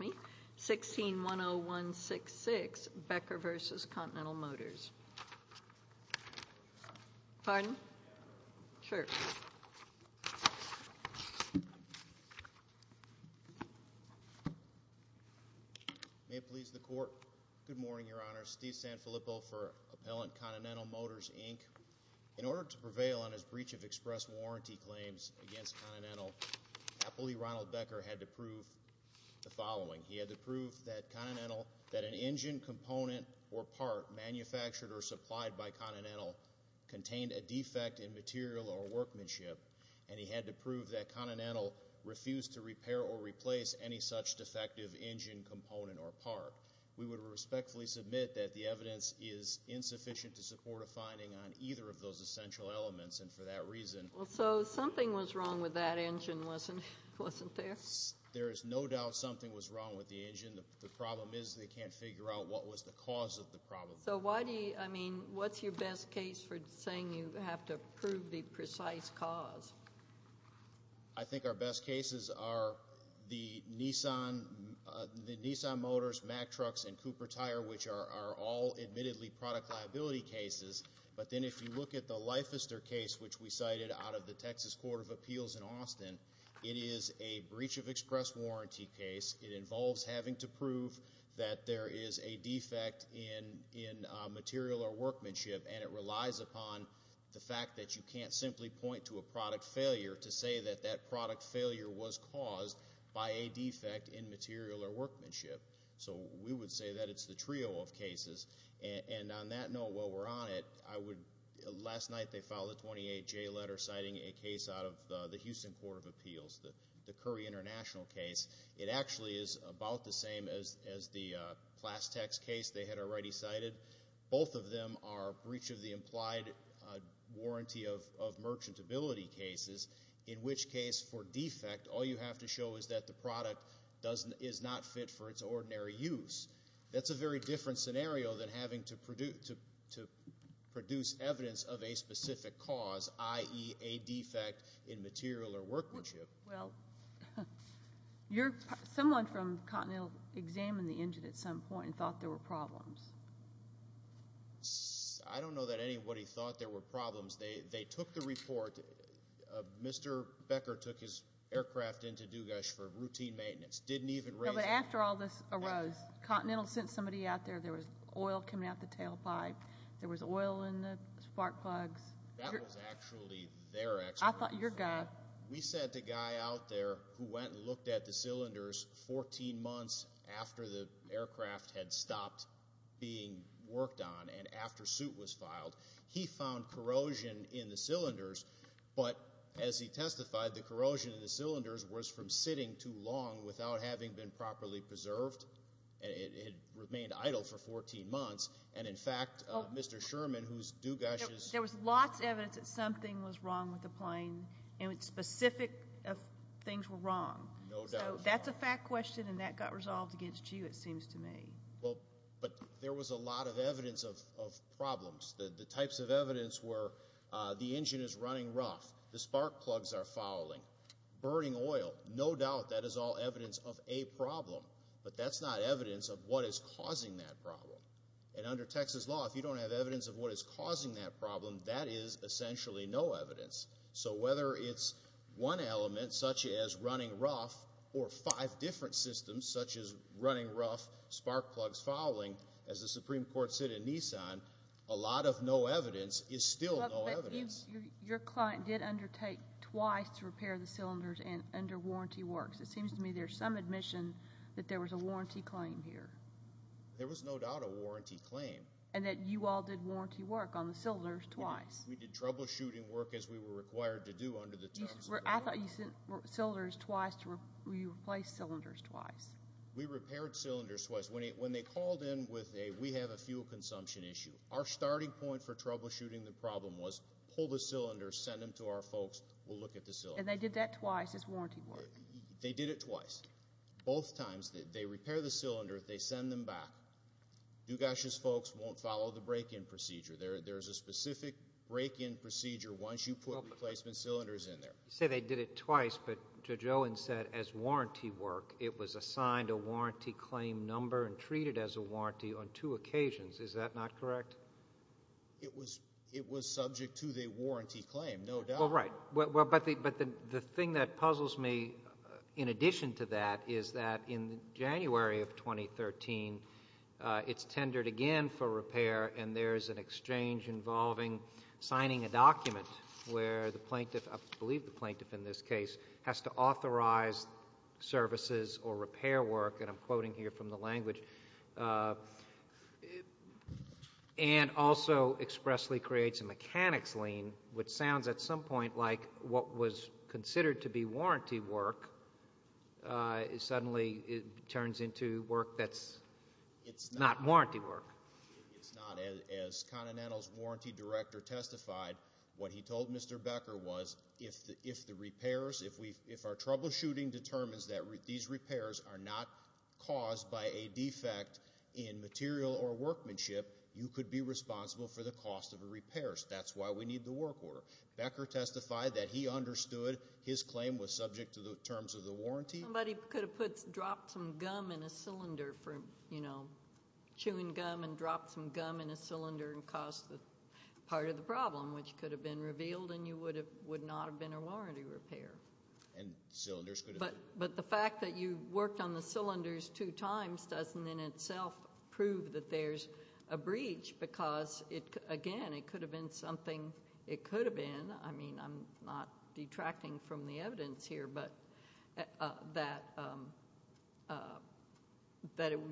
May it please the Court, good morning Your Honor, Steve Sanfilippo for Appellant Continental Motors, Inc. In order to prevail on his breach of express warranty claims against Continental, Appellee Ronald Becker had to prove the following, he had to prove that Continental, that an engine component or part manufactured or supplied by Continental contained a defect in material or workmanship and he had to prove that Continental refused to repair or replace any such defective engine component or part. We would respectfully submit that the evidence is insufficient to support a finding on either of those essential elements and for that reason. Well, so something was wrong with that engine, wasn't there? There is no doubt something was wrong with the engine, the problem is they can't figure out what was the cause of the problem. So why do you, I mean, what's your best case for saying you have to prove the precise cause? I think our best cases are the Nissan Motors, Mack Trucks, and Cooper Tire, which are all admittedly product liability cases, but then if you look at the Leifester case, which we have out of the Texas Court of Appeals in Austin, it is a breach of express warranty case. It involves having to prove that there is a defect in material or workmanship and it relies upon the fact that you can't simply point to a product failure to say that that product failure was caused by a defect in material or workmanship. And on that note, while we're on it, I would, last night they filed a 28-J letter citing a case out of the Houston Court of Appeals, the Curry International case. It actually is about the same as the Plastex case they had already cited. Both of them are breach of the implied warranty of merchantability cases, in which case for defect all you have to show is that the product is not fit for its ordinary use. That's a very different scenario than having to produce evidence of a specific cause, i.e. a defect in material or workmanship. Well, someone from Continental examined the engine at some point and thought there were problems. I don't know that anybody thought there were problems. They took the report. Mr. Becker took his aircraft into Dugash for routine maintenance. No, but after all this arose, Continental sent somebody out there. There was oil coming out the tailpipe. There was oil in the spark plugs. That was actually their expertise. We sent a guy out there who went and looked at the cylinders 14 months after the aircraft had stopped being worked on and after suit was filed. He found corrosion in the cylinders, but as he testified, the corrosion in the cylinders was from sitting too long without having been properly preserved. It had remained idle for 14 months. In fact, Mr. Sherman, who's Dugash's... There was lots of evidence that something was wrong with the plane, and specific things were wrong. No doubt. That's a fact question, and that got resolved against you, it seems to me. There was a lot of evidence of problems. The types of evidence were the engine is running rough, the spark plugs are fouling, burning oil. No doubt that is all evidence of a problem, but that's not evidence of what is causing that problem. Under Texas law, if you don't have evidence of what is causing that problem, that is essentially no evidence. Whether it's one element, such as running rough, or five different systems, such as running rough, spark plugs fouling, as the Supreme Court said in Nissan, a lot of no evidence is still no evidence. Your client did undertake twice to repair the cylinders under warranty works. It seems to me there's some admission that there was a warranty claim here. There was no doubt a warranty claim. And that you all did warranty work on the cylinders twice. We did troubleshooting work as we were required to do under the terms of the law. I thought you sent cylinders twice to replace cylinders twice. We repaired cylinders twice. When they called in with a, we have a fuel consumption issue, our starting point for the cylinder, send them to our folks, we'll look at the cylinder. And they did that twice as warranty work? They did it twice. Both times. They repair the cylinder, they send them back, Dugash's folks won't follow the break-in procedure. There's a specific break-in procedure once you put replacement cylinders in there. You say they did it twice, but Judge Owen said as warranty work, it was assigned a warranty claim number and treated as a warranty on two occasions. Is that not correct? It was subject to the warranty claim, no doubt. Well, right. But the thing that puzzles me in addition to that is that in January of 2013, it's tendered again for repair and there's an exchange involving signing a document where the plaintiff, I believe the plaintiff in this case, has to authorize services or repair work, and I'm And also expressly creates a mechanics lien, which sounds at some point like what was considered to be warranty work suddenly turns into work that's not warranty work. It's not. As Continental's warranty director testified, what he told Mr. Becker was, if the repairs, if our troubleshooting determines that these repairs are not caused by a defect in material or workmanship, you could be responsible for the cost of a repair. That's why we need the work order. Becker testified that he understood his claim was subject to the terms of the warranty. Somebody could have dropped some gum in a cylinder for, you know, chewing gum and dropped some gum in a cylinder and caused part of the problem, which could have been revealed and you would not have been a warranty repair. And cylinders could have been. But the fact that you worked on the cylinders two times doesn't in itself prove that there's a breach because, again, it could have been something, it could have been, I mean, I'm not detracting from the evidence here, but that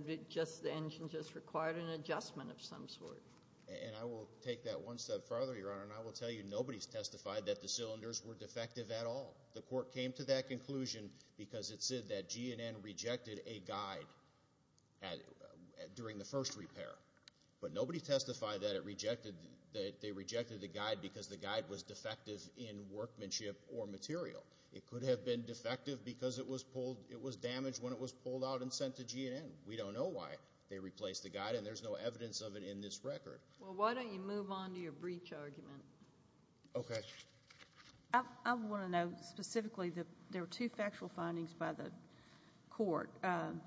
it just, the engine just required an adjustment of some sort. And I will take that one step further, Your Honor, and I will tell you nobody's testified that the cylinders were defective at all. The court came to that conclusion because it said that GNN rejected a guide during the first repair. But nobody testified that it rejected, that they rejected the guide because the guide was defective in workmanship or material. It could have been defective because it was pulled, it was damaged when it was pulled out and sent to GNN. We don't know why they replaced the guide and there's no evidence of it in this record. Well, why don't you move on to your breach argument? Okay. I want to note specifically that there were two factual findings by the court that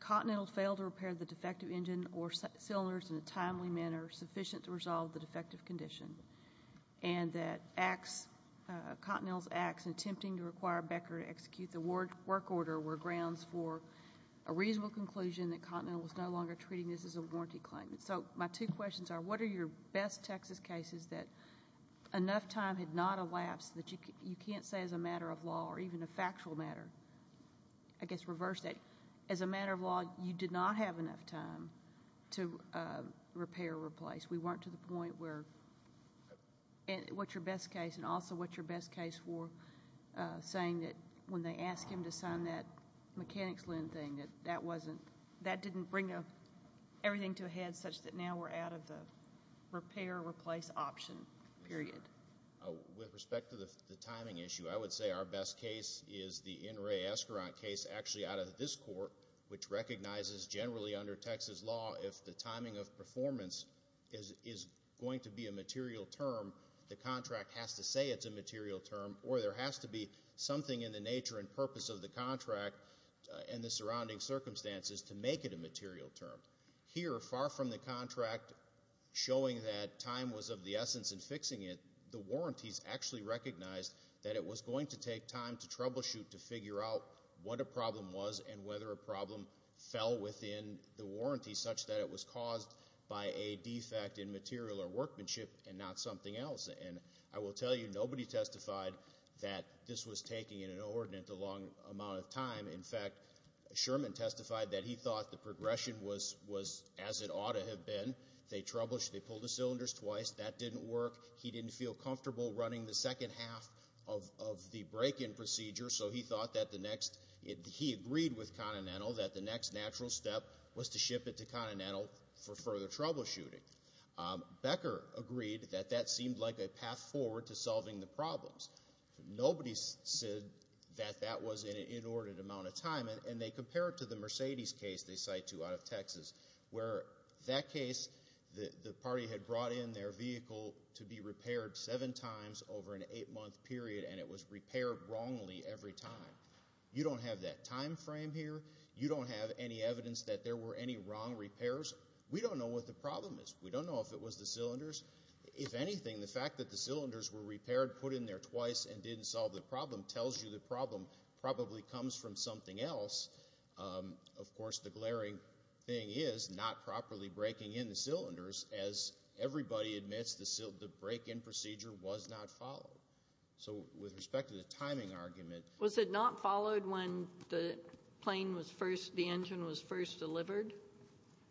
Continental failed to repair the defective engine or cylinders in a timely manner sufficient to resolve the defective condition and that Continental's acts in attempting to require Becker to execute the work order were grounds for a reasonable conclusion that Continental was no longer treating this as a warranty claim. So my two questions are, what are your best Texas cases that enough time had not elapsed that you can't say as a matter of law or even a factual matter, I guess reverse that, as a matter of law you did not have enough time to repair or replace? We weren't to the point where... What's your best case and also what's your best case for saying that when they asked him to sign that mechanics lint thing that that didn't bring everything to a head such that now we're out of the repair, replace option period? With respect to the timing issue, I would say our best case is the in-ray escurant case actually out of this court, which recognizes generally under Texas law if the timing of performance is going to be a material term, the contract has to say it's a material term or there has to be something in the nature and purpose of the contract and the surrounding circumstances to make it a material term. Here far from the contract showing that time was of the essence in fixing it, the warranties actually recognized that it was going to take time to troubleshoot to figure out what a problem was and whether a problem fell within the warranty such that it was caused by a defect in material or workmanship and not something else. And I will tell you, nobody testified that this was taking an inordinate amount of time. In fact, Sherman testified that he thought the progression was as it ought to have been. They trouble, they pulled the cylinders twice, that didn't work. He didn't feel comfortable running the second half of the break-in procedure, so he thought that the next, he agreed with Continental that the next natural step was to ship it to Continental for further troubleshooting. Becker agreed that that seemed like a path forward to solving the problems. Nobody said that that was an inordinate amount of time, and they compared it to the Mercedes case they cite to out of Texas, where that case, the party had brought in their vehicle to be repaired seven times over an eight-month period, and it was repaired wrongly every time. You don't have that time frame here. You don't have any evidence that there were any wrong repairs. We don't know what the problem is. We don't know if it was the cylinders. If anything, the fact that the cylinders were repaired, put in there twice, and didn't solve the problem tells you the problem probably comes from something else. Of course, the glaring thing is not properly breaking in the cylinders, as everybody admits, the break-in procedure was not followed. So with respect to the timing argument- Was it not followed when the plane was first, the engine was first delivered?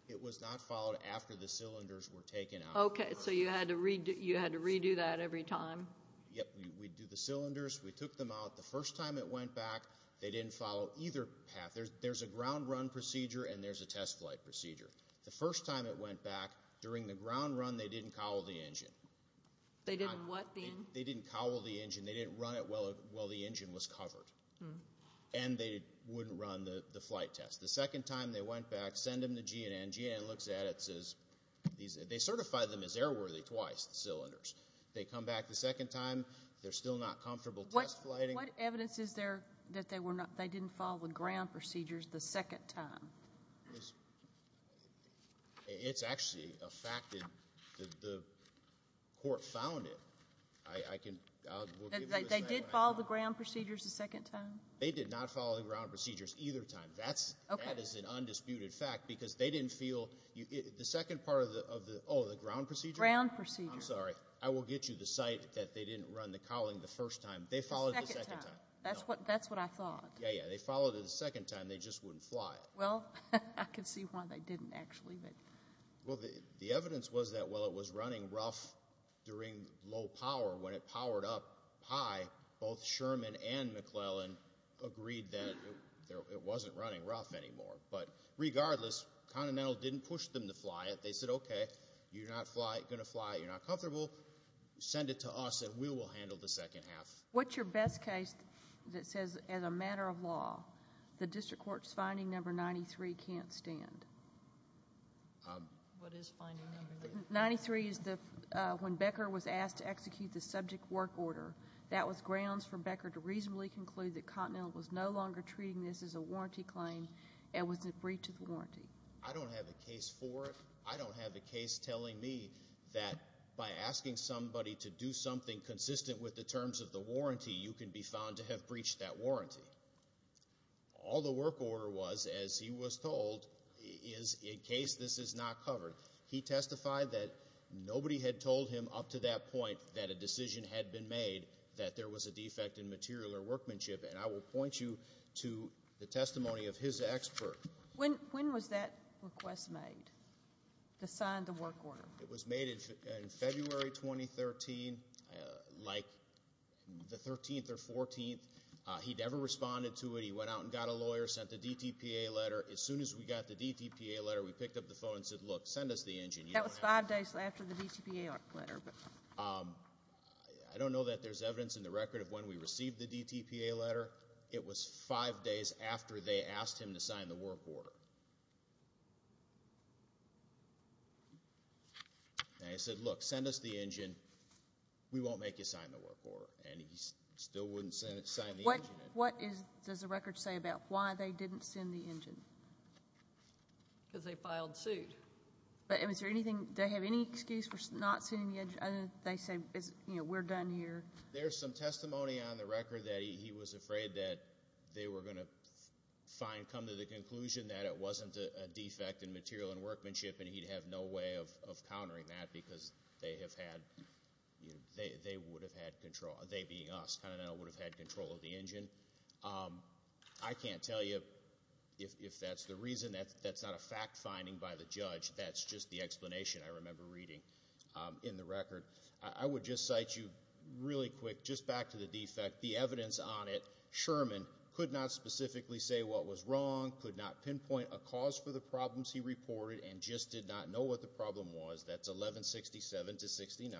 It was not followed after the cylinders were taken out. Okay, so you had to redo that every time? Yep, we'd do the cylinders, we took them out, the first time it went back, they didn't follow either path. There's a ground run procedure, and there's a test flight procedure. The first time it went back, during the ground run, they didn't cowl the engine. They didn't what? They didn't cowl the engine, they didn't run it while the engine was covered. And they wouldn't run the flight test. The second time they went back, send them the GNN, GNN looks at it and says, they certify them as airworthy twice, the cylinders. They come back the second time, they're still not comfortable test flighting. What evidence is there that they didn't follow the ground procedures the second time? It's actually a fact that the court found it. They did follow the ground procedures the second time? They did not follow the ground procedures either time. That is an undisputed fact, because they didn't feel, the second part of the, oh, the ground procedure? Ground procedures. I'm sorry. I will get you the site that they didn't run the cowling the first time. They followed it the second time. That's what I thought. Yeah, yeah. They followed it the second time. They just wouldn't fly it. Well, I can see why they didn't, actually. The evidence was that while it was running rough during low power, when it powered up high, both Sherman and McClellan agreed that it wasn't running rough anymore. But regardless, Continental didn't push them to fly it. They said, okay, you're not going to fly it, you're not comfortable, send it to us and we will handle the second half. What's your best case that says, as a matter of law, the district court's finding number ninety-three can't stand? What is finding number ninety-three? Ninety-three is when Becker was asked to execute the subject work order. That was grounds for Becker to reasonably conclude that Continental was no longer treating this as a warranty claim and was in breach of the warranty. I don't have a case for it. I don't have a case telling me that by asking somebody to do something consistent with the terms of the warranty, you can be found to have breached that warranty. All the work order was, as he was told, is in case this is not covered. He testified that nobody had told him up to that point that a decision had been made that there was a defect in material or workmanship. And I will point you to the testimony of his expert. When was that request made, to sign the work order? It was made in February 2013, like the 13th or 14th. He never responded to it. He went out and got a lawyer, sent the DTPA letter. As soon as we got the DTPA letter, we picked up the phone and said, look, send us the engine. That was five days after the DTPA letter. I don't know that there's evidence in the record of when we received the DTPA letter. It was five days after they asked him to sign the work order. And he said, look, send us the engine. We won't make you sign the work order. And he still wouldn't sign the engine. What does the record say about why they didn't send the engine? Because they filed suit. But is there anything, do they have any excuse for not sending the engine? They say, you know, we're done here. There's some testimony on the record that he was afraid that they were going to find, come to the conclusion that it wasn't a defect in material and workmanship. And he'd have no way of countering that because they have had, they would have had control. They being us, would have had control of the engine. I can't tell you if that's the reason. That's not a fact finding by the judge. That's just the explanation I remember reading in the record. I would just cite you really quick, just back to the defect, the evidence on it. Sherman could not specifically say what was wrong, could not pinpoint a cause for the problems he reported, and just did not know what the problem was. That's 1167 to 69.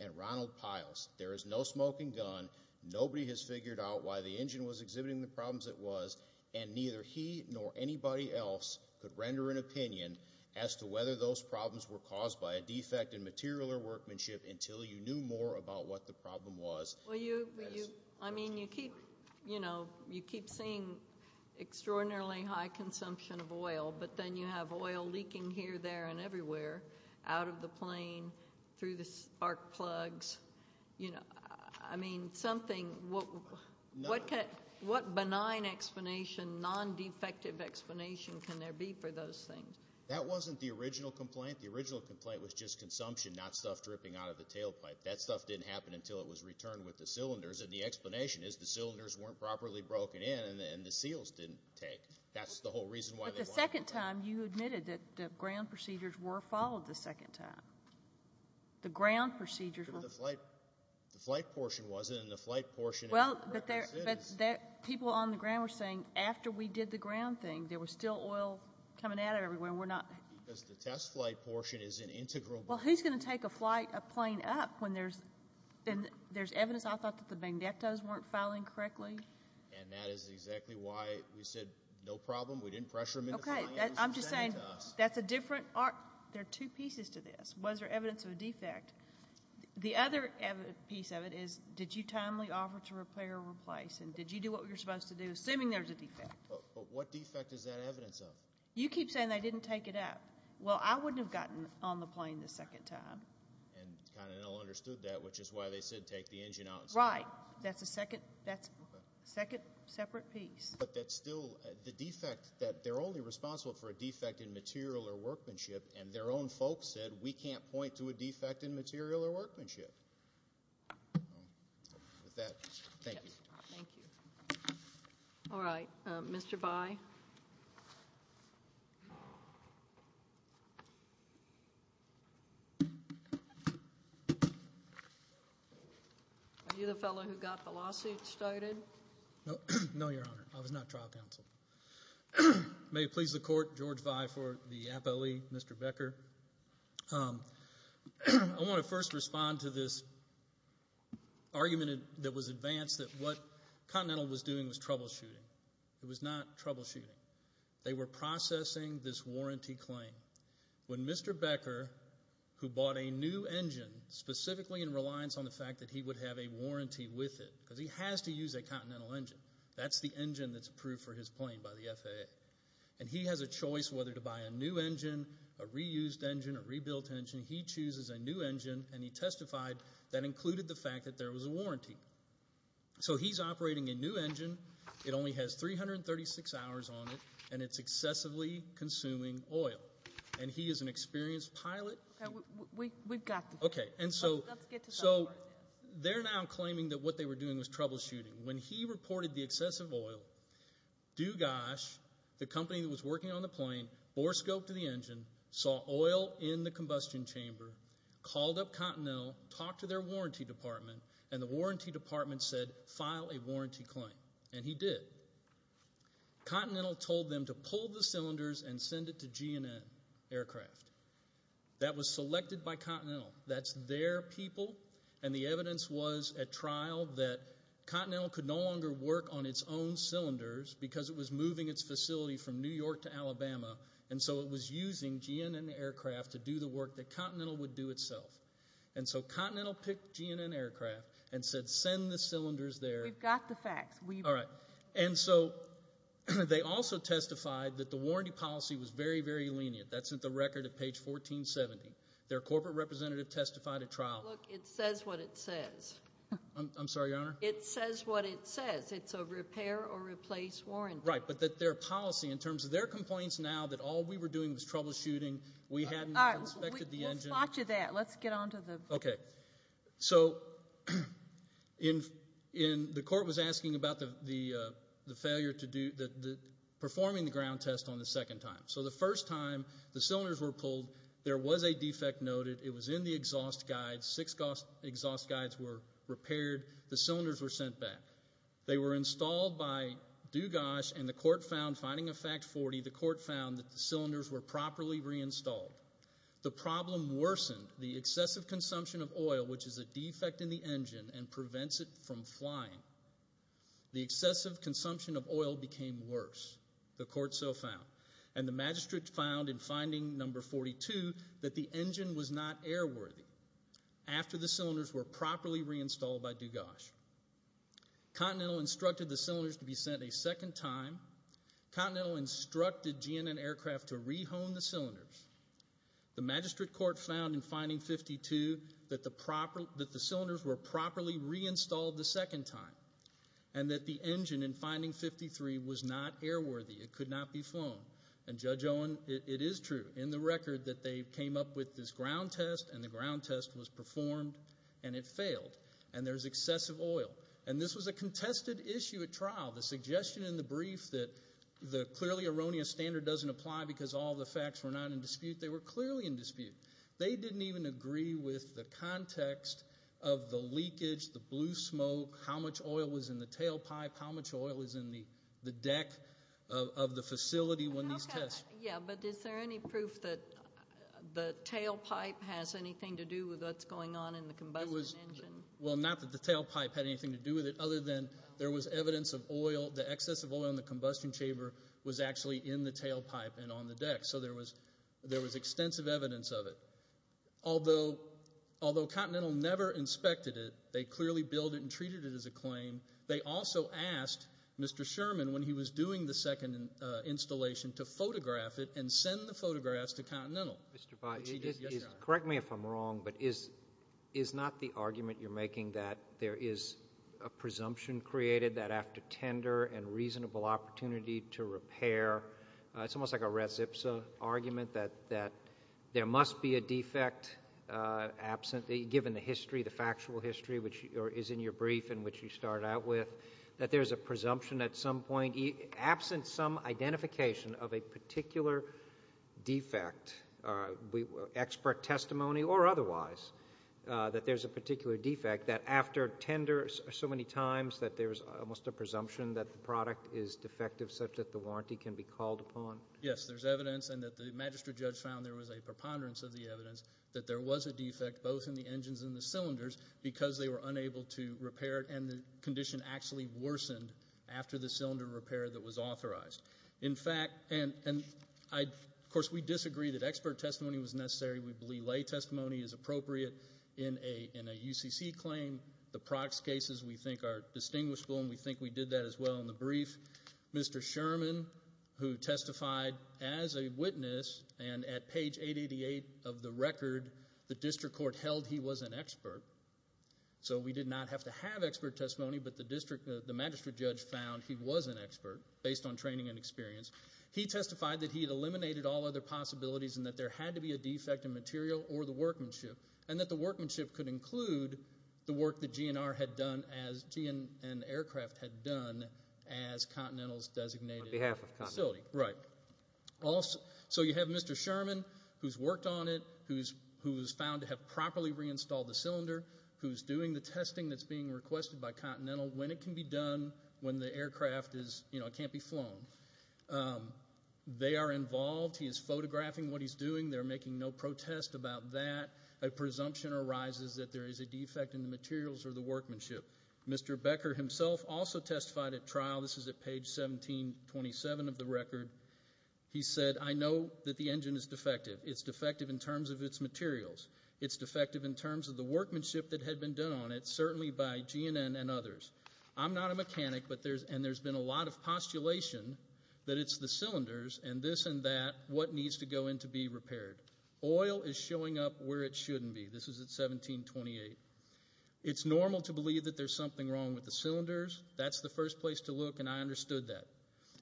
And Ronald Piles, there is no smoking gun. Nobody has figured out why the engine was exhibiting the problems it was. And neither he nor anybody else could render an opinion as to whether those problems were caused by a defect in material or workmanship until you knew more about what the problem was. Well you, I mean you keep, you know, you keep seeing extraordinarily high consumption of oil, but then you have oil leaking here, there, and everywhere, out of the plane, through the spark plugs. You know, I mean something, what benign explanation, non-defective explanation can there be for those things? That wasn't the original complaint. The original complaint was just consumption, not stuff dripping out of the tailpipe. That stuff didn't happen until it was returned with the cylinders, and the explanation is the cylinders weren't properly broken in, and the seals didn't take. That's the whole reason why they wanted to do that. But the second time, you admitted that the ground procedures were followed the second time. The ground procedures were. But the flight, the flight portion wasn't, and the flight portion. Well, but there, but there, people on the ground were saying, after we did the ground thing, there was still oil coming out of everywhere, we're not. Because the test flight portion is an integral. Well, who's going to take a flight, a plane up, when there's, and there's evidence I thought that the bangdettos weren't filing correctly. And that is exactly why we said, no problem, we didn't pressure them into filing. Okay, I'm just saying, that's a different, there are two pieces to this. Was there evidence of a defect? The other piece of it is, did you timely offer to repair or replace, and did you do what you're supposed to do, assuming there's a defect? But what defect is that evidence of? You keep saying they didn't take it up. Well, I wouldn't have gotten on the plane the second time. And kind of understood that, which is why they said take the engine out. Right. That's a second, that's a second separate piece. But that's still the defect, that they're only responsible for a defect in material or workmanship, and their own folks said, we can't point to a defect in material or workmanship. With that, thank you. Thank you. All right, Mr. Bayh. Are you the fellow who got the lawsuit started? No, Your Honor. I was not trial counsel. May it please the court, George Vi for the appellee, Mr. Becker. I want to first respond to this argument that was advanced, that what Continental was doing was troubleshooting. It was not troubleshooting. They were processing this warranty claim. When Mr. Becker, who bought a new engine, specifically in reliance on the fact that he would have a warranty with it, because he has to use a Continental engine. That's the engine that's approved for his plane by the FAA. And he has a choice whether to buy a new engine, a reused engine, a rebuilt engine. He chooses a new engine, and he testified that included the fact that there was a warranty. So he's operating a new engine. It only has 336 hours on it, and it's excessively consuming oil. And he is an experienced pilot. We've got this. Okay. And so they're now claiming that what they were doing was troubleshooting. When he reported the excessive oil, Dugash, the company that was working on the plane, bore scope to the engine, saw oil in the combustion chamber, called up Continental, talked to their warranty department, and the warranty department said, file a warranty claim. And he did. Continental told them to pull the cylinders and send it to GNN Aircraft. That was selected by Continental. That's their people. And the evidence was at trial that Continental could no longer work on its own cylinders because it was moving its facility from New York to Alabama. And so it was using GNN Aircraft to do the work that Continental would do itself. And so Continental picked GNN Aircraft and said, send the cylinders there. We've got the facts. All right. And so they also testified that the warranty policy was very, very lenient. That's at the record at page 1470. Their corporate representative testified at trial. Look, it says what it says. I'm sorry, Your Honor? It says what it says. It's a repair or replace warranty. Right. But that their policy, in terms of their complaints now that all we were doing was troubleshooting, we hadn't inspected the engine. We'll spot you that. Okay. So the court was asking about the failure to do, performing the ground test on the second time. So the first time the cylinders were pulled, there was a defect noted. It was in the exhaust guides. Six exhaust guides were repaired. The cylinders were sent back. They were installed by Dugas and the court found, finding a fact 40, the court found that the cylinders were properly reinstalled. The problem worsened the excessive consumption of oil, which is a defect in the engine and prevents it from flying. The excessive consumption of oil became worse. The court so found. And the magistrate found in finding number 42 that the engine was not airworthy after the cylinders were properly reinstalled by Dugas. Continental instructed the cylinders to be sent a second time. Continental instructed GNN Aircraft to rehome the cylinders. The magistrate court found in finding 52 that the proper, that the cylinders were properly reinstalled the second time. And that the engine in finding 53 was not airworthy. It could not be flown. And Judge Owen, it is true in the record that they came up with this ground test and the ground test was performed and it failed. And there's excessive oil. And this was a contested issue at trial. The suggestion in the brief that the clearly erroneous standard doesn't apply because all the facts were not in dispute. They were clearly in dispute. They didn't even agree with the context of the leakage, the blue smoke, how much oil was in the tailpipe, how much oil is in the deck of the facility when these tests. Yeah, but is there any proof that the tailpipe has anything to do with what's going on in the combustion engine? Well, not that the tailpipe had anything to do with it, other than there was evidence of oil, the excess of oil in the combustion chamber was actually in the tailpipe. So there was extensive evidence of it. Although Continental never inspected it, they clearly billed it and treated it as a claim. They also asked Mr. Sherman when he was doing the second installation to photograph it and send the photographs to Continental. Correct me if I'm wrong, but is not the argument you're making that there is a presumption created that after tender and reasonable opportunity to repair, it's almost like a res ipsa argument that there must be a defect, absent, given the history, the factual history, which is in your brief in which you start out with, that there's a presumption at some point, absent some identification of a particular defect, expert testimony or otherwise, that there's a particular defect that after tender so many times that there's almost a presumption that the product is defective that the warranty can be called upon? Yes, there's evidence and that the magistrate judge found there was a preponderance of the evidence that there was a defect both in the engines and the cylinders because they were unable to repair it and the condition actually worsened after the cylinder repair that was authorized. In fact, and of course, we disagree that expert testimony was necessary. We believe lay testimony is appropriate in a UCC claim. The prox cases we think are distinguishable and we think we did that as well in the brief. Mr. Sherman, who testified as a witness and at page 888 of the record, the district court held he was an expert. So we did not have to have expert testimony, but the magistrate judge found he was an expert based on training and experience. He testified that he had eliminated all other possibilities and that there had to be a defect in material or the workmanship and that the workmanship could include the work that GNR had done and aircraft had done as Continental's designated facility. So you have Mr. Sherman who's worked on it, who was found to have properly reinstalled the cylinder, who's doing the testing that's being requested by Continental when it can be done when the aircraft can't be flown. They are involved. He is photographing what he's doing. They're making no protest about that. A presumption arises that there is a defect in the materials or the workmanship. Mr. Becker himself also testified at trial. This is at page 1727 of the record. He said, I know that the engine is defective. It's defective in terms of its materials. It's defective in terms of the workmanship that had been done on it, certainly by GNN and others. I'm not a mechanic, and there's been a lot of postulation that it's the cylinders and this and that, what needs to go in to be repaired. Oil is showing up where it shouldn't be. This is at 1728. It's normal to believe that there's something wrong with the cylinders. That's the first place to look, and I understood that.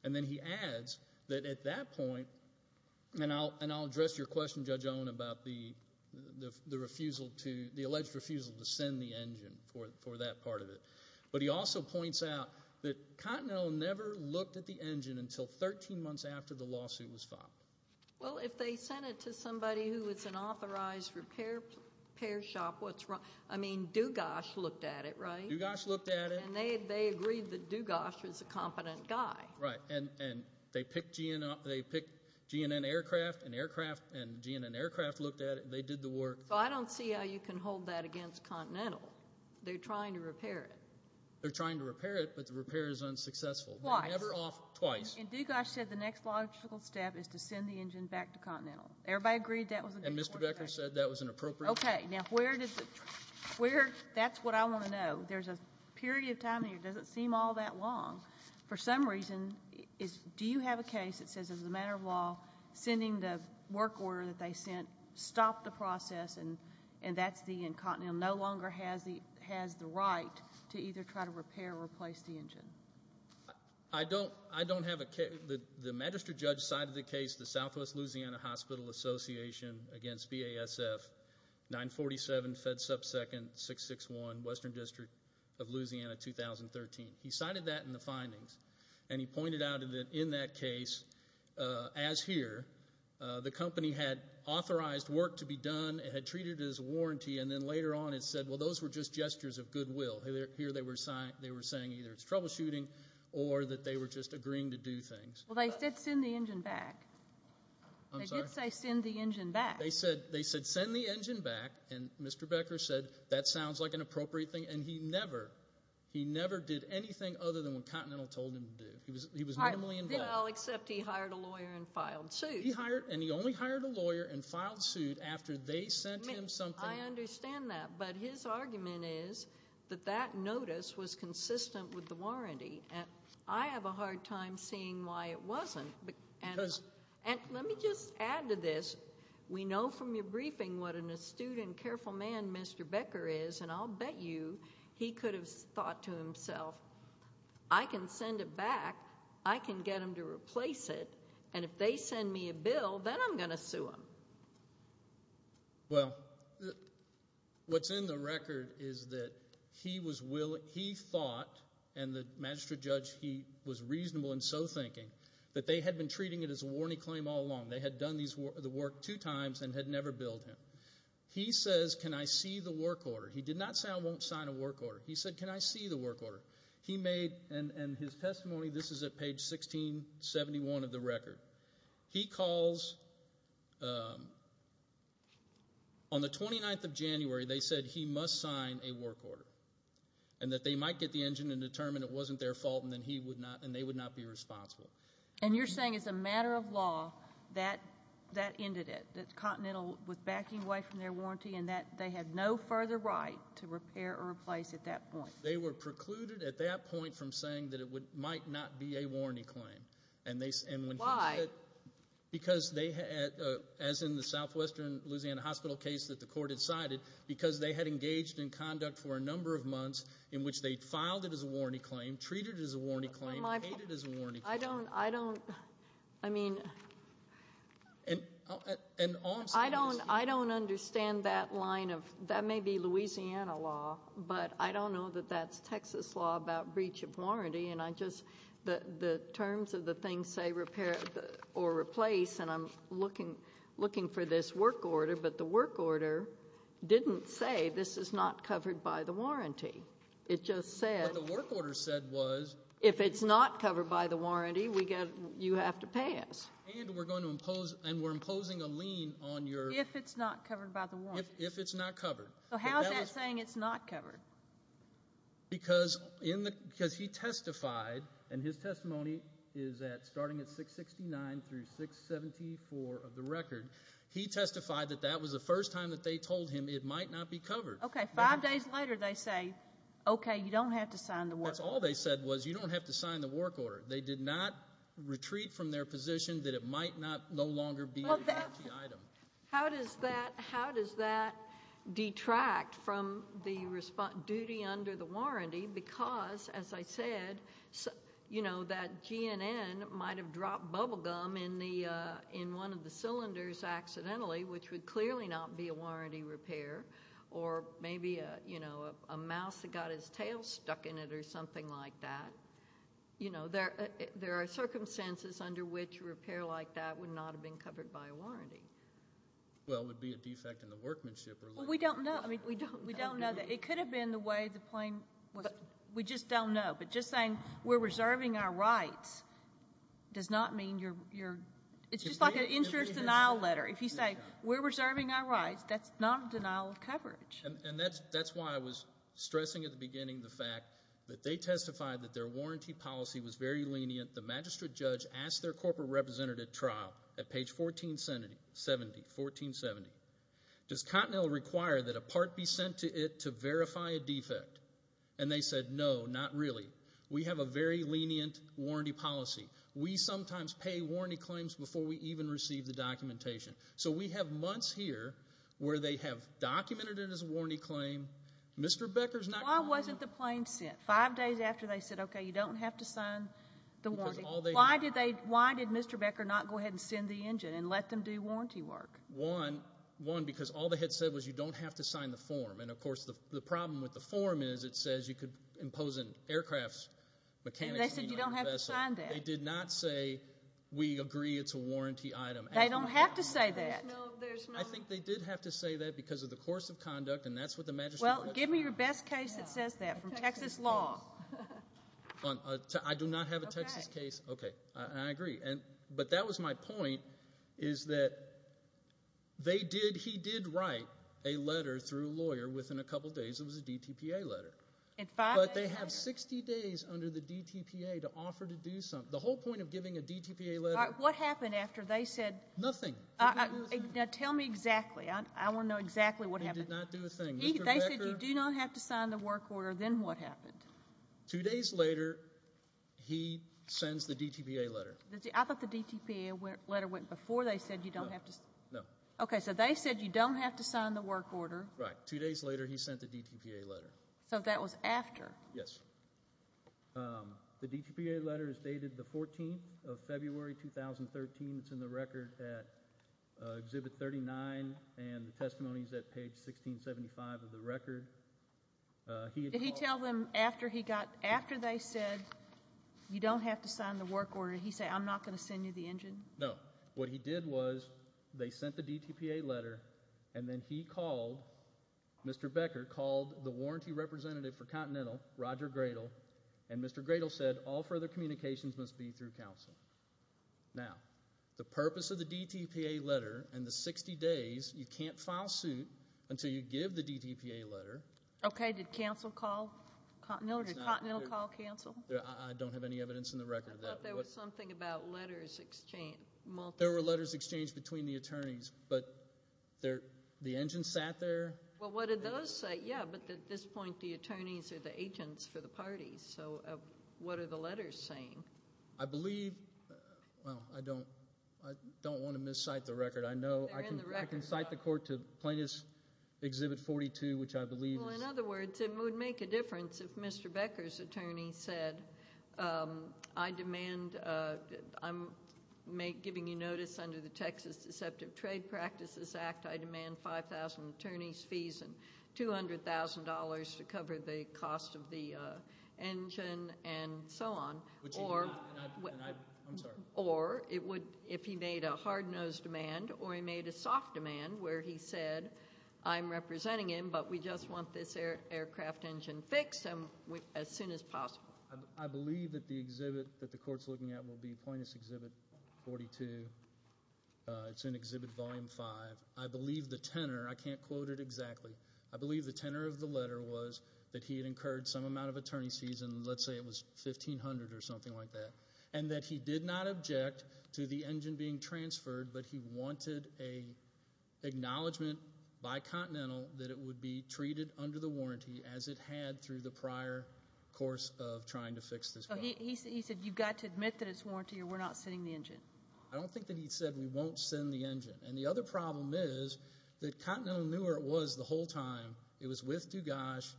And then he adds that at that point, and I'll address your question, Judge Owen, about the alleged refusal to send the engine for that part of it. But he also points out that Continental never looked at the engine until 13 months after the lawsuit was filed. Well, if they sent it to somebody who is an authorized repair shop, I mean, Dugas looked at it, right? Dugas looked at it. And they agreed that Dugas was a competent guy. Right, and they picked GNN Aircraft, and GNN Aircraft looked at it. They did the work. So I don't see how you can hold that against Continental. They're trying to repair it. They're trying to repair it, but the repair is unsuccessful. Twice. Never off twice. And Dugas said the next logical step is to send the engine back to Continental. Everybody agreed that was a good point. And Mr. Becker said that was an appropriate step. Now, that's what I want to know. There's a period of time here, it doesn't seem all that long. For some reason, do you have a case that says, as a matter of law, sending the work order that they sent stopped the process, and that's the Continental no longer has the right to either try to repair or replace the engine? I don't have a case. The magistrate judge cited the case, the Southwest Louisiana Hospital Association against BASF. 947 Fed Sub Second 661, Western District of Louisiana, 2013. He cited that in the findings, and he pointed out that in that case, as here, the company had authorized work to be done, it had treated it as a warranty, and then later on it said, well, those were just gestures of goodwill. Here they were saying either it's troubleshooting or that they were just agreeing to do things. Well, they said send the engine back. I'm sorry? They did say send the engine back. They said send the engine back, and Mr. Becker said that sounds like an appropriate thing, and he never did anything other than what Continental told him to do. He was minimally involved. Well, except he hired a lawyer and filed suit. He hired, and he only hired a lawyer and filed suit after they sent him something. I understand that, but his argument is that that notice was consistent with the warranty, and I have a hard time seeing why it wasn't. And let me just add to this, we know from your briefing what an astute and careful man Mr. Becker is, and I'll bet you he could have thought to himself, I can send it back, I can get him to replace it, and if they send me a bill, then I'm going to sue him. Well, what's in the record is that he was willing, he thought, and the magistrate judge, he was reasonable and so thinking, that they had been treating it as a warranty claim all along. They had done the work two times and had never billed him. He says, can I see the work order? He did not say I won't sign a work order. He said, can I see the work order? He made, and his testimony, this is at page 1671 of the record. He calls, on the 29th of January, they said he must sign a work order, and that they might get the engine and determine it wasn't their fault, and they would not be responsible. And you're saying, as a matter of law, that ended it? That Continental was backing away from their warranty, and that they had no further right to repair or replace at that point? They were precluded at that point from saying that it might not be a warranty claim. Why? Because they had, as in the southwestern Louisiana hospital case that the court had cited, because they had engaged in conduct for a number of months in which they'd filed it as a warranty claim, treated it as a warranty claim, paid it as a warranty claim. I don't, I don't, I mean. I don't understand that line of, that may be Louisiana law, but I don't know that that's Texas law about breach of warranty, and I just, the terms of the thing say repair or replace, and I'm looking for this work order, but the work order didn't say this is not covered by the warranty. It just said. What the work order said was. If it's not covered by the warranty, we get, you have to pass. And we're going to impose, and we're imposing a lien on your. If it's not covered by the warranty. If it's not covered. So how's that saying it's not covered? Because in the, because he testified, and his testimony is at, starting at 669 through 674 of the record, he testified that that was the first time that they told him it might not be covered. Okay. Five days later, they say, okay, you don't have to sign the work. All they said was you don't have to sign the work order. They did not retreat from their position that it might not no longer be. How does that, how does that detract from the response duty under the warranty? Because as I said, you know, that GNN might've dropped bubble gum in the, in one of the cylinders accidentally, which would clearly not be a warranty repair, or maybe a, you know, a mouse that got his tail stuck in it or something like that. You know, there, there are circumstances under which repair like that would not have been covered by a warranty. Well, it would be a defect in the workmanship. Well, we don't know. I mean, we don't, we don't know that it could have been the way the plane was. We just don't know. But just saying we're reserving our rights does not mean you're, you're, it's just like an insurance denial letter. If you say we're reserving our rights, that's not a denial of coverage. And that's, that's why I was stressing at the beginning the fact that they testified that their warranty policy was very lenient. The magistrate judge asked their corporate representative trial at page 1470, 1470, does Cottonell require that a part be sent to it to verify a defect? And they said, no, not really. We have a very lenient warranty policy. We sometimes pay warranty claims before we even receive the documentation. So we have months here where they have documented it as a warranty claim. Mr. Becker's not- Why wasn't the plane sent? Five days after they said, okay, you don't have to sign the warranty. Why did they, why did Mr. Becker not go ahead and send the engine and let them do warranty work? One, one, because all they had said was you don't have to sign the form. And of course, the problem with the form is it says you could impose an aircraft mechanics- They said you don't have to sign that. They did not say we agree it's a warranty item. They don't have to say that. I think they did have to say that because of the course of conduct. And that's what the magistrate- Well, give me your best case that says that from Texas law. I do not have a Texas case. Okay, I agree. And, but that was my point is that they did, he did write a letter through a lawyer within a couple of days, it was a DTPA letter. But they have 60 days under the DTPA to offer to do something. The whole point of giving a DTPA letter- What happened after they said- Nothing. Now tell me exactly, I want to know exactly what happened. They did not do a thing. They said you do not have to sign the work order, then what happened? Two days later, he sends the DTPA letter. I thought the DTPA letter went before they said you don't have to- No. Okay, so they said you don't have to sign the work order. Right, two days later, he sent the DTPA letter. So that was after? Yes. The DTPA letter is dated the 14th of February 2013. It's in the record at Exhibit 39 and the testimony is at page 1675 of the record. Did he tell them after he got, after they said you don't have to sign the work order, he said I'm not going to send you the engine? No. What he did was they sent the DTPA letter and then he called, Mr. Becker called the warranty representative for Continental, Roger Gradle, and Mr. Gradle said all further communications must be through counsel. Now, the purpose of the DTPA letter and the 60 days, you can't file suit until you give the DTPA letter. Okay, did counsel call Continental? Did Continental call counsel? I don't have any evidence in the record. I thought there was something about letters exchanged. There were letters exchanged between the attorneys, but the engine sat there. Well, what did those say? Yeah, but at this point, the attorneys are the agents for the parties, so what are the letters saying? I believe, well, I don't want to miscite the record. They're in the record. I can cite the court to Plaintiff's Exhibit 42, which I believe is... Well, in other words, it would make a difference if Mr. Becker's attorney said, I demand, I'm giving you notice under the Texas Deceptive Trade Practices Act, I demand 5,000 attorney's fees and $200,000 to cover the cost of the engine, and so on. Or it would, if he made a hard-nosed demand, or he made a soft demand where he said, I'm representing him, but we just want this aircraft engine fixed as soon as possible. I believe that the exhibit that the court's looking at will be Plaintiff's Exhibit 42. It's in Exhibit Volume 5. I believe the tenor, I can't quote it exactly, I believe the tenor of the letter was that he had incurred some amount of attorney's fees, and let's say it was $1,500 or something like that, and that he did not object to the engine being transferred, but he wanted an acknowledgment by Continental that it would be treated under the warranty as it had through the prior course of trying to fix this problem. So he said, you've got to admit that it's warranty or we're not sending the engine. I don't think that he said we won't send the engine. And the other problem is that Continental knew where it was the whole time. It was with Dugash.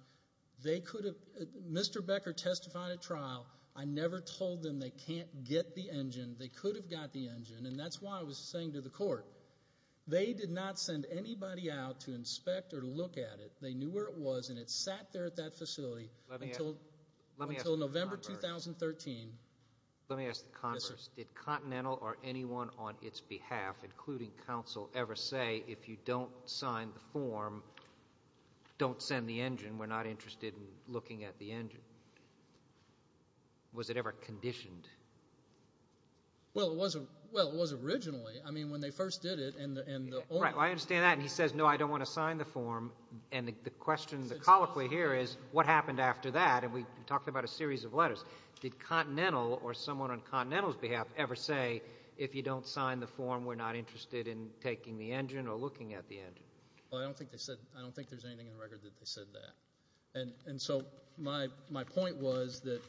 They could have, Mr. Becker testified at trial. I never told them they can't get the engine. They could have got the engine, and that's why I was saying to the court, they did not send anybody out to inspect or to look at it. They knew where it was, and it sat there at that facility until November 2013. Let me ask the converse. Did Continental or anyone on its behalf, including counsel, ever say, if you don't sign the form, don't send the engine? We're not interested in looking at the engine. Was it ever conditioned? Well, it was originally. I mean, when they first did it, and the owner... Right, well, I understand that. And he says, no, I don't want to sign the form. And the question, the colloquy here is, what happened after that? And we talked about a series of letters. Did Continental or someone on Continental's behalf ever say, if you don't sign the form, we're not interested in taking the engine or looking at the engine? Well, I don't think they said... I don't think there's anything in the record that they said that. And so my point was that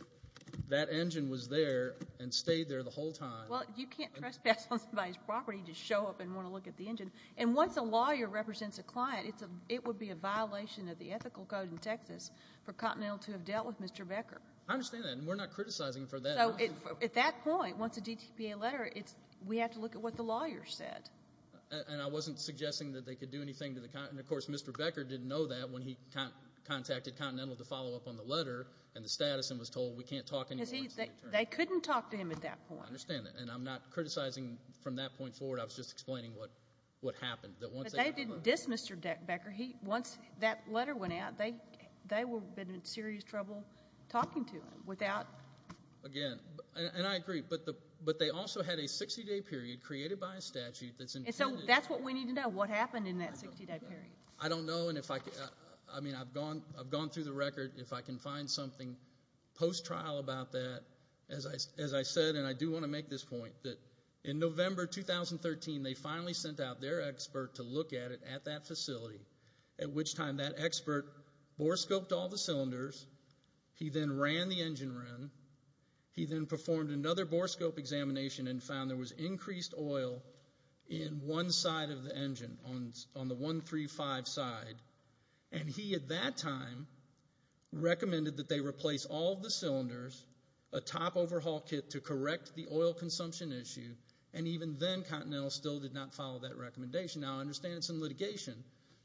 that engine was there and stayed there the whole time. Well, you can't trespass on somebody's property to show up and want to look at the engine. And once a lawyer represents a client, it would be a violation of the ethical code in Texas for Continental to have dealt with Mr. Becker. I understand that. And we're not criticizing for that. So at that point, once a DTPA letter, we have to look at what the lawyer said. And I wasn't suggesting that they could do anything to the... And of course, Mr. Becker didn't know that when he contacted Continental to follow up on the letter and the status and was told, we can't talk anymore. They couldn't talk to him at that point. I understand that. And I'm not criticizing from that point forward. I was just explaining what happened. But they didn't diss Mr. Becker. Once that letter went out, they would have been in serious trouble talking to him without... Again, and I agree, but they also had a 60-day period created by a statute that's intended... And so that's what we need to know. What happened in that 60-day period? I don't know. I mean, I've gone through the record. If I can find something post-trial about that, as I said, and I do want to make this point, in November 2013, they finally sent out their expert to look at it at that facility, at which time that expert borescoped all the cylinders. He then ran the engine run. He then performed another borescope examination and found there was increased oil in one side of the engine, on the 135 side. And he, at that time, recommended that they replace all the cylinders, a top overhaul kit to correct the oil consumption issue, and even then, Continental still did not follow that recommendation. Now, I understand it's in litigation,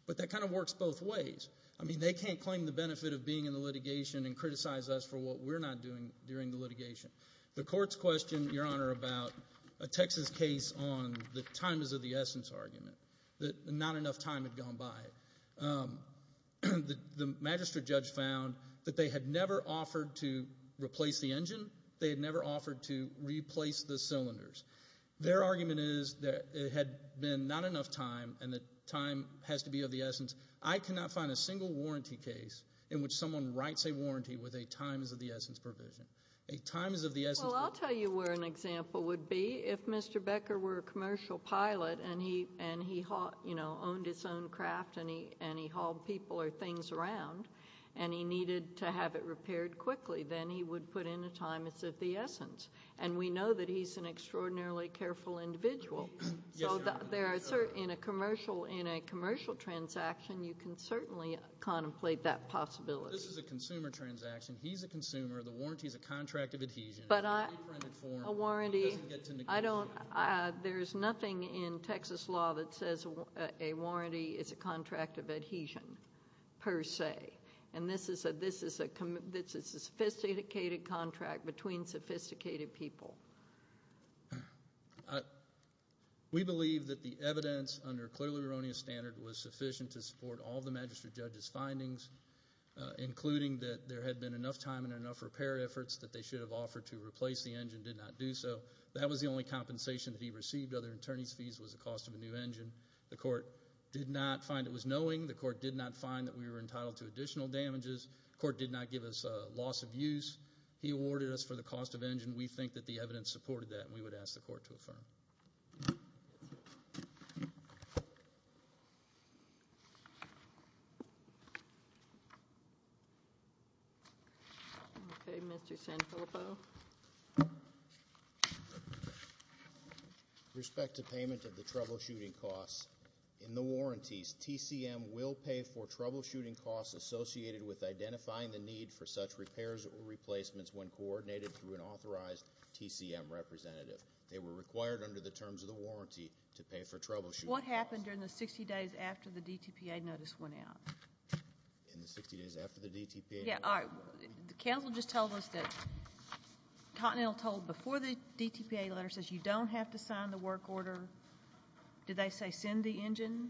but that kind of works both ways. I mean, they can't claim the benefit of being in the litigation and criticize us for what we're not doing during the litigation. The courts questioned, Your Honor, about a Texas case on the time is of the essence argument, that not enough time had gone by. The magistrate judge found that they had never offered to replace the engine. They had never offered to replace the cylinders. Their argument is that it had been not enough time, and that time has to be of the essence. I cannot find a single warranty case in which someone writes a warranty with a time is of the essence provision. A time is of the essence. Well, I'll tell you where an example would be. If Mr. Becker were a commercial pilot, and he owned his own craft, and he hauled people or things around, and he needed to have it repaired quickly, then he would put in a time is of the essence. And we know that he's an extraordinarily careful individual. So in a commercial transaction, you can certainly contemplate that possibility. This is a consumer transaction. He's a consumer. The warranty is a contract of adhesion. A warranty, there's nothing in Texas law that says a warranty is a contract of adhesion, per se. And this is a sophisticated contract between sophisticated people. We believe that the evidence under clearly erroneous standard was sufficient to support all the magistrate judge's findings, including that there had been enough time and enough repair efforts that they should have offered to replace the engine, did not do so. That was the only compensation that he received. Other attorneys' fees was the cost of a new engine. The court did not find it was knowing. The court did not find that we were entitled to additional damages. The court did not give us a loss of use. He awarded us for the cost of engine. We think that the evidence supported that, and we would ask the court to affirm. Okay, Mr. Santopo. Respect to payment of the troubleshooting costs. In the warranties, TCM will pay for troubleshooting costs associated with identifying the need for such repairs or replacements when coordinated through an authorized TCM representative. They were required under the terms of the warranty to pay for troubleshooting costs. What happened during the 60 days after the DTPA notice went out? In the 60 days after the DTPA notice went out? Yeah, all right, the counsel just told us that Continental told before the DTPA letter says you don't have to sign the work order. Did they say send the engine?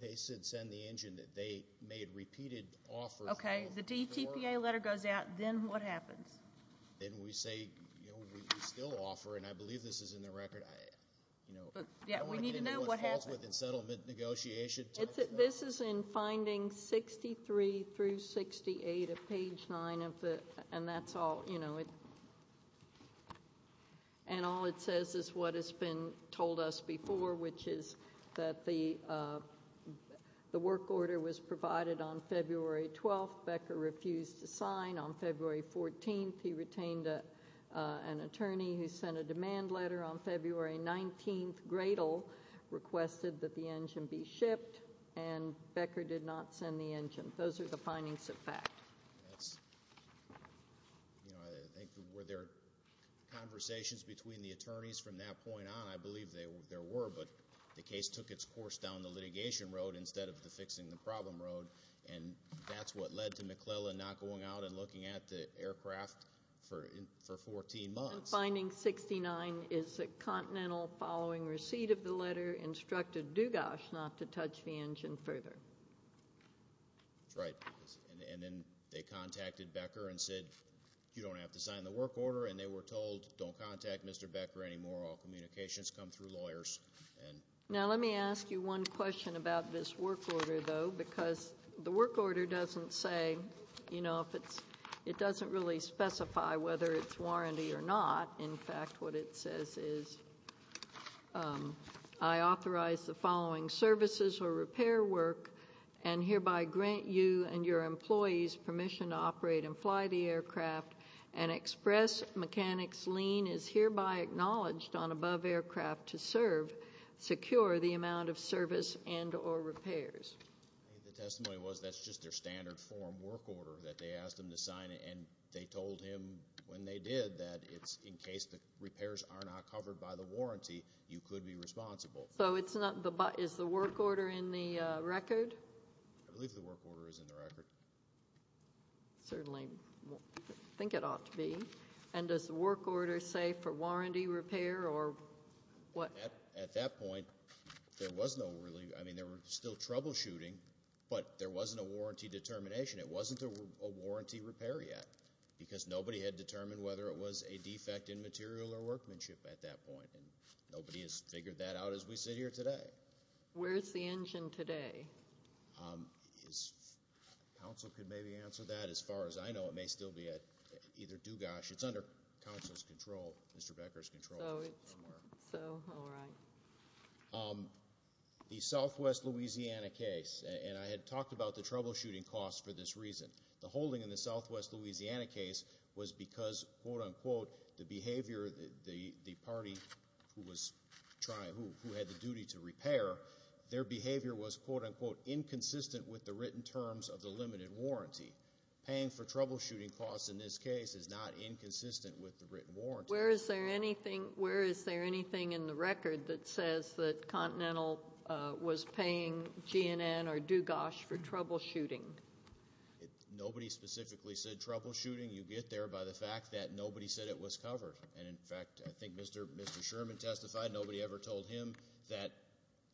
They said send the engine, that they made repeated offers. Okay, the DTPA letter goes out, then what happens? Then we say, you know, we still offer, and I believe this is in the record. Yeah, we need to know what happened. In settlement negotiation. This is in findings 63 through 68 of page 9 of the, and that's all, you know, and all it says is what has been told us before, which is that the work order was provided on February 18th, he retained an attorney who sent a demand letter on February 19th. Gradle requested that the engine be shipped, and Becker did not send the engine. Those are the findings of fact. You know, I think, were there conversations between the attorneys from that point on? I believe there were, but the case took its course down the litigation road instead of the fixing the problem road, and that's what led to McClellan not going out and looking at the aircraft for 14 months. Finding 69 is a continental following receipt of the letter instructed Dugas not to touch the engine further. That's right, and then they contacted Becker and said, you don't have to sign the work order, and they were told, don't contact Mr. Becker anymore. All communications come through lawyers. Now, let me ask you one question about this work order, though, because the work order doesn't say, you know, it doesn't really specify whether it's warranty or not. In fact, what it says is, I authorize the following services or repair work, and hereby grant you and your employees permission to operate and fly the aircraft, and express mechanics lien is hereby acknowledged on above aircraft to serve, secure the amount of service and or repairs. The testimony was that's just their standard form work order that they asked them to sign, and they told him when they did that it's in case the repairs are not covered by the warranty, you could be responsible. So it's not the, is the work order in the record? I believe the work order is in the record. Certainly think it ought to be, and does the work order say for warranty repair or what? At that point, there was no really, I mean, they were still troubleshooting, but there wasn't a warranty determination. It wasn't a warranty repair yet, because nobody had determined whether it was a defect in material or workmanship at that point, and nobody has figured that out as we sit here today. Where's the engine today? Counsel could maybe answer that. As far as I know, it may still be at either Dugash. It's under counsel's control, Mr. Becker's control. So, all right. The Southwest Louisiana case, and I had talked about the troubleshooting costs for this reason. The holding in the Southwest Louisiana case was because, quote unquote, the behavior, the party who was trying, who had the duty to repair, their behavior was, quote unquote, inconsistent with the written terms of the limited warranty. Paying for troubleshooting costs in this case is not inconsistent with the written warranty. Where is there anything in the record that says that Continental was paying GNN or Dugash for troubleshooting? Nobody specifically said troubleshooting. You get there by the fact that nobody said it was covered, and in fact, I think Mr. Sherman testified. Nobody ever told him that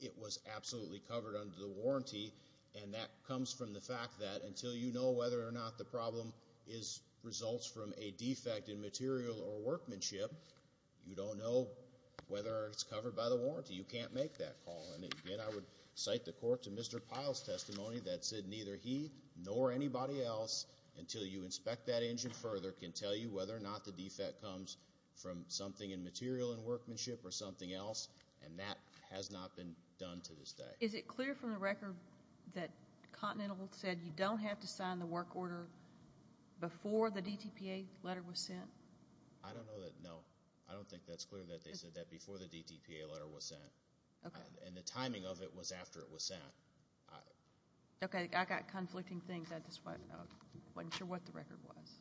it was absolutely covered under the warranty, and that comes from the fact that until you know whether or not the problem results from a defect in workmanship, you don't know whether it's covered by the warranty. You can't make that call, and again, I would cite the court to Mr. Pyle's testimony that said neither he nor anybody else, until you inspect that engine further, can tell you whether or not the defect comes from something in material in workmanship or something else, and that has not been done to this day. Is it clear from the record that Continental said you don't have to sign the work order before the DTPA letter was sent? I don't know that. No, I don't think that's clear that they said that before the DTPA letter was sent, and the timing of it was after it was sent. Okay, I got conflicting things. I just wasn't sure what the record was.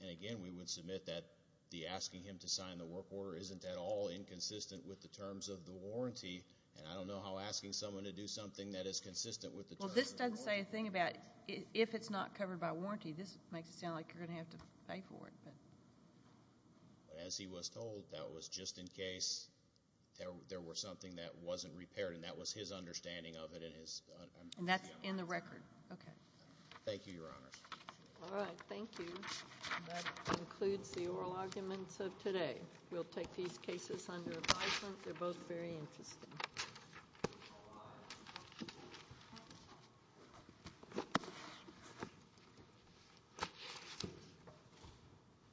And again, we would submit that the asking him to sign the work order isn't at all inconsistent with the terms of the warranty, and I don't know how asking someone to do something that is consistent with the terms of the work order— Well, this doesn't say a thing about if it's not covered by warranty. This makes it sound like you're going to have to pay for it. But as he was told, that was just in case there was something that wasn't repaired, and that was his understanding of it. And that's in the record. Okay. Thank you, Your Honors. All right, thank you. That concludes the oral arguments of today. We'll take these cases under advisement. They're both very interesting.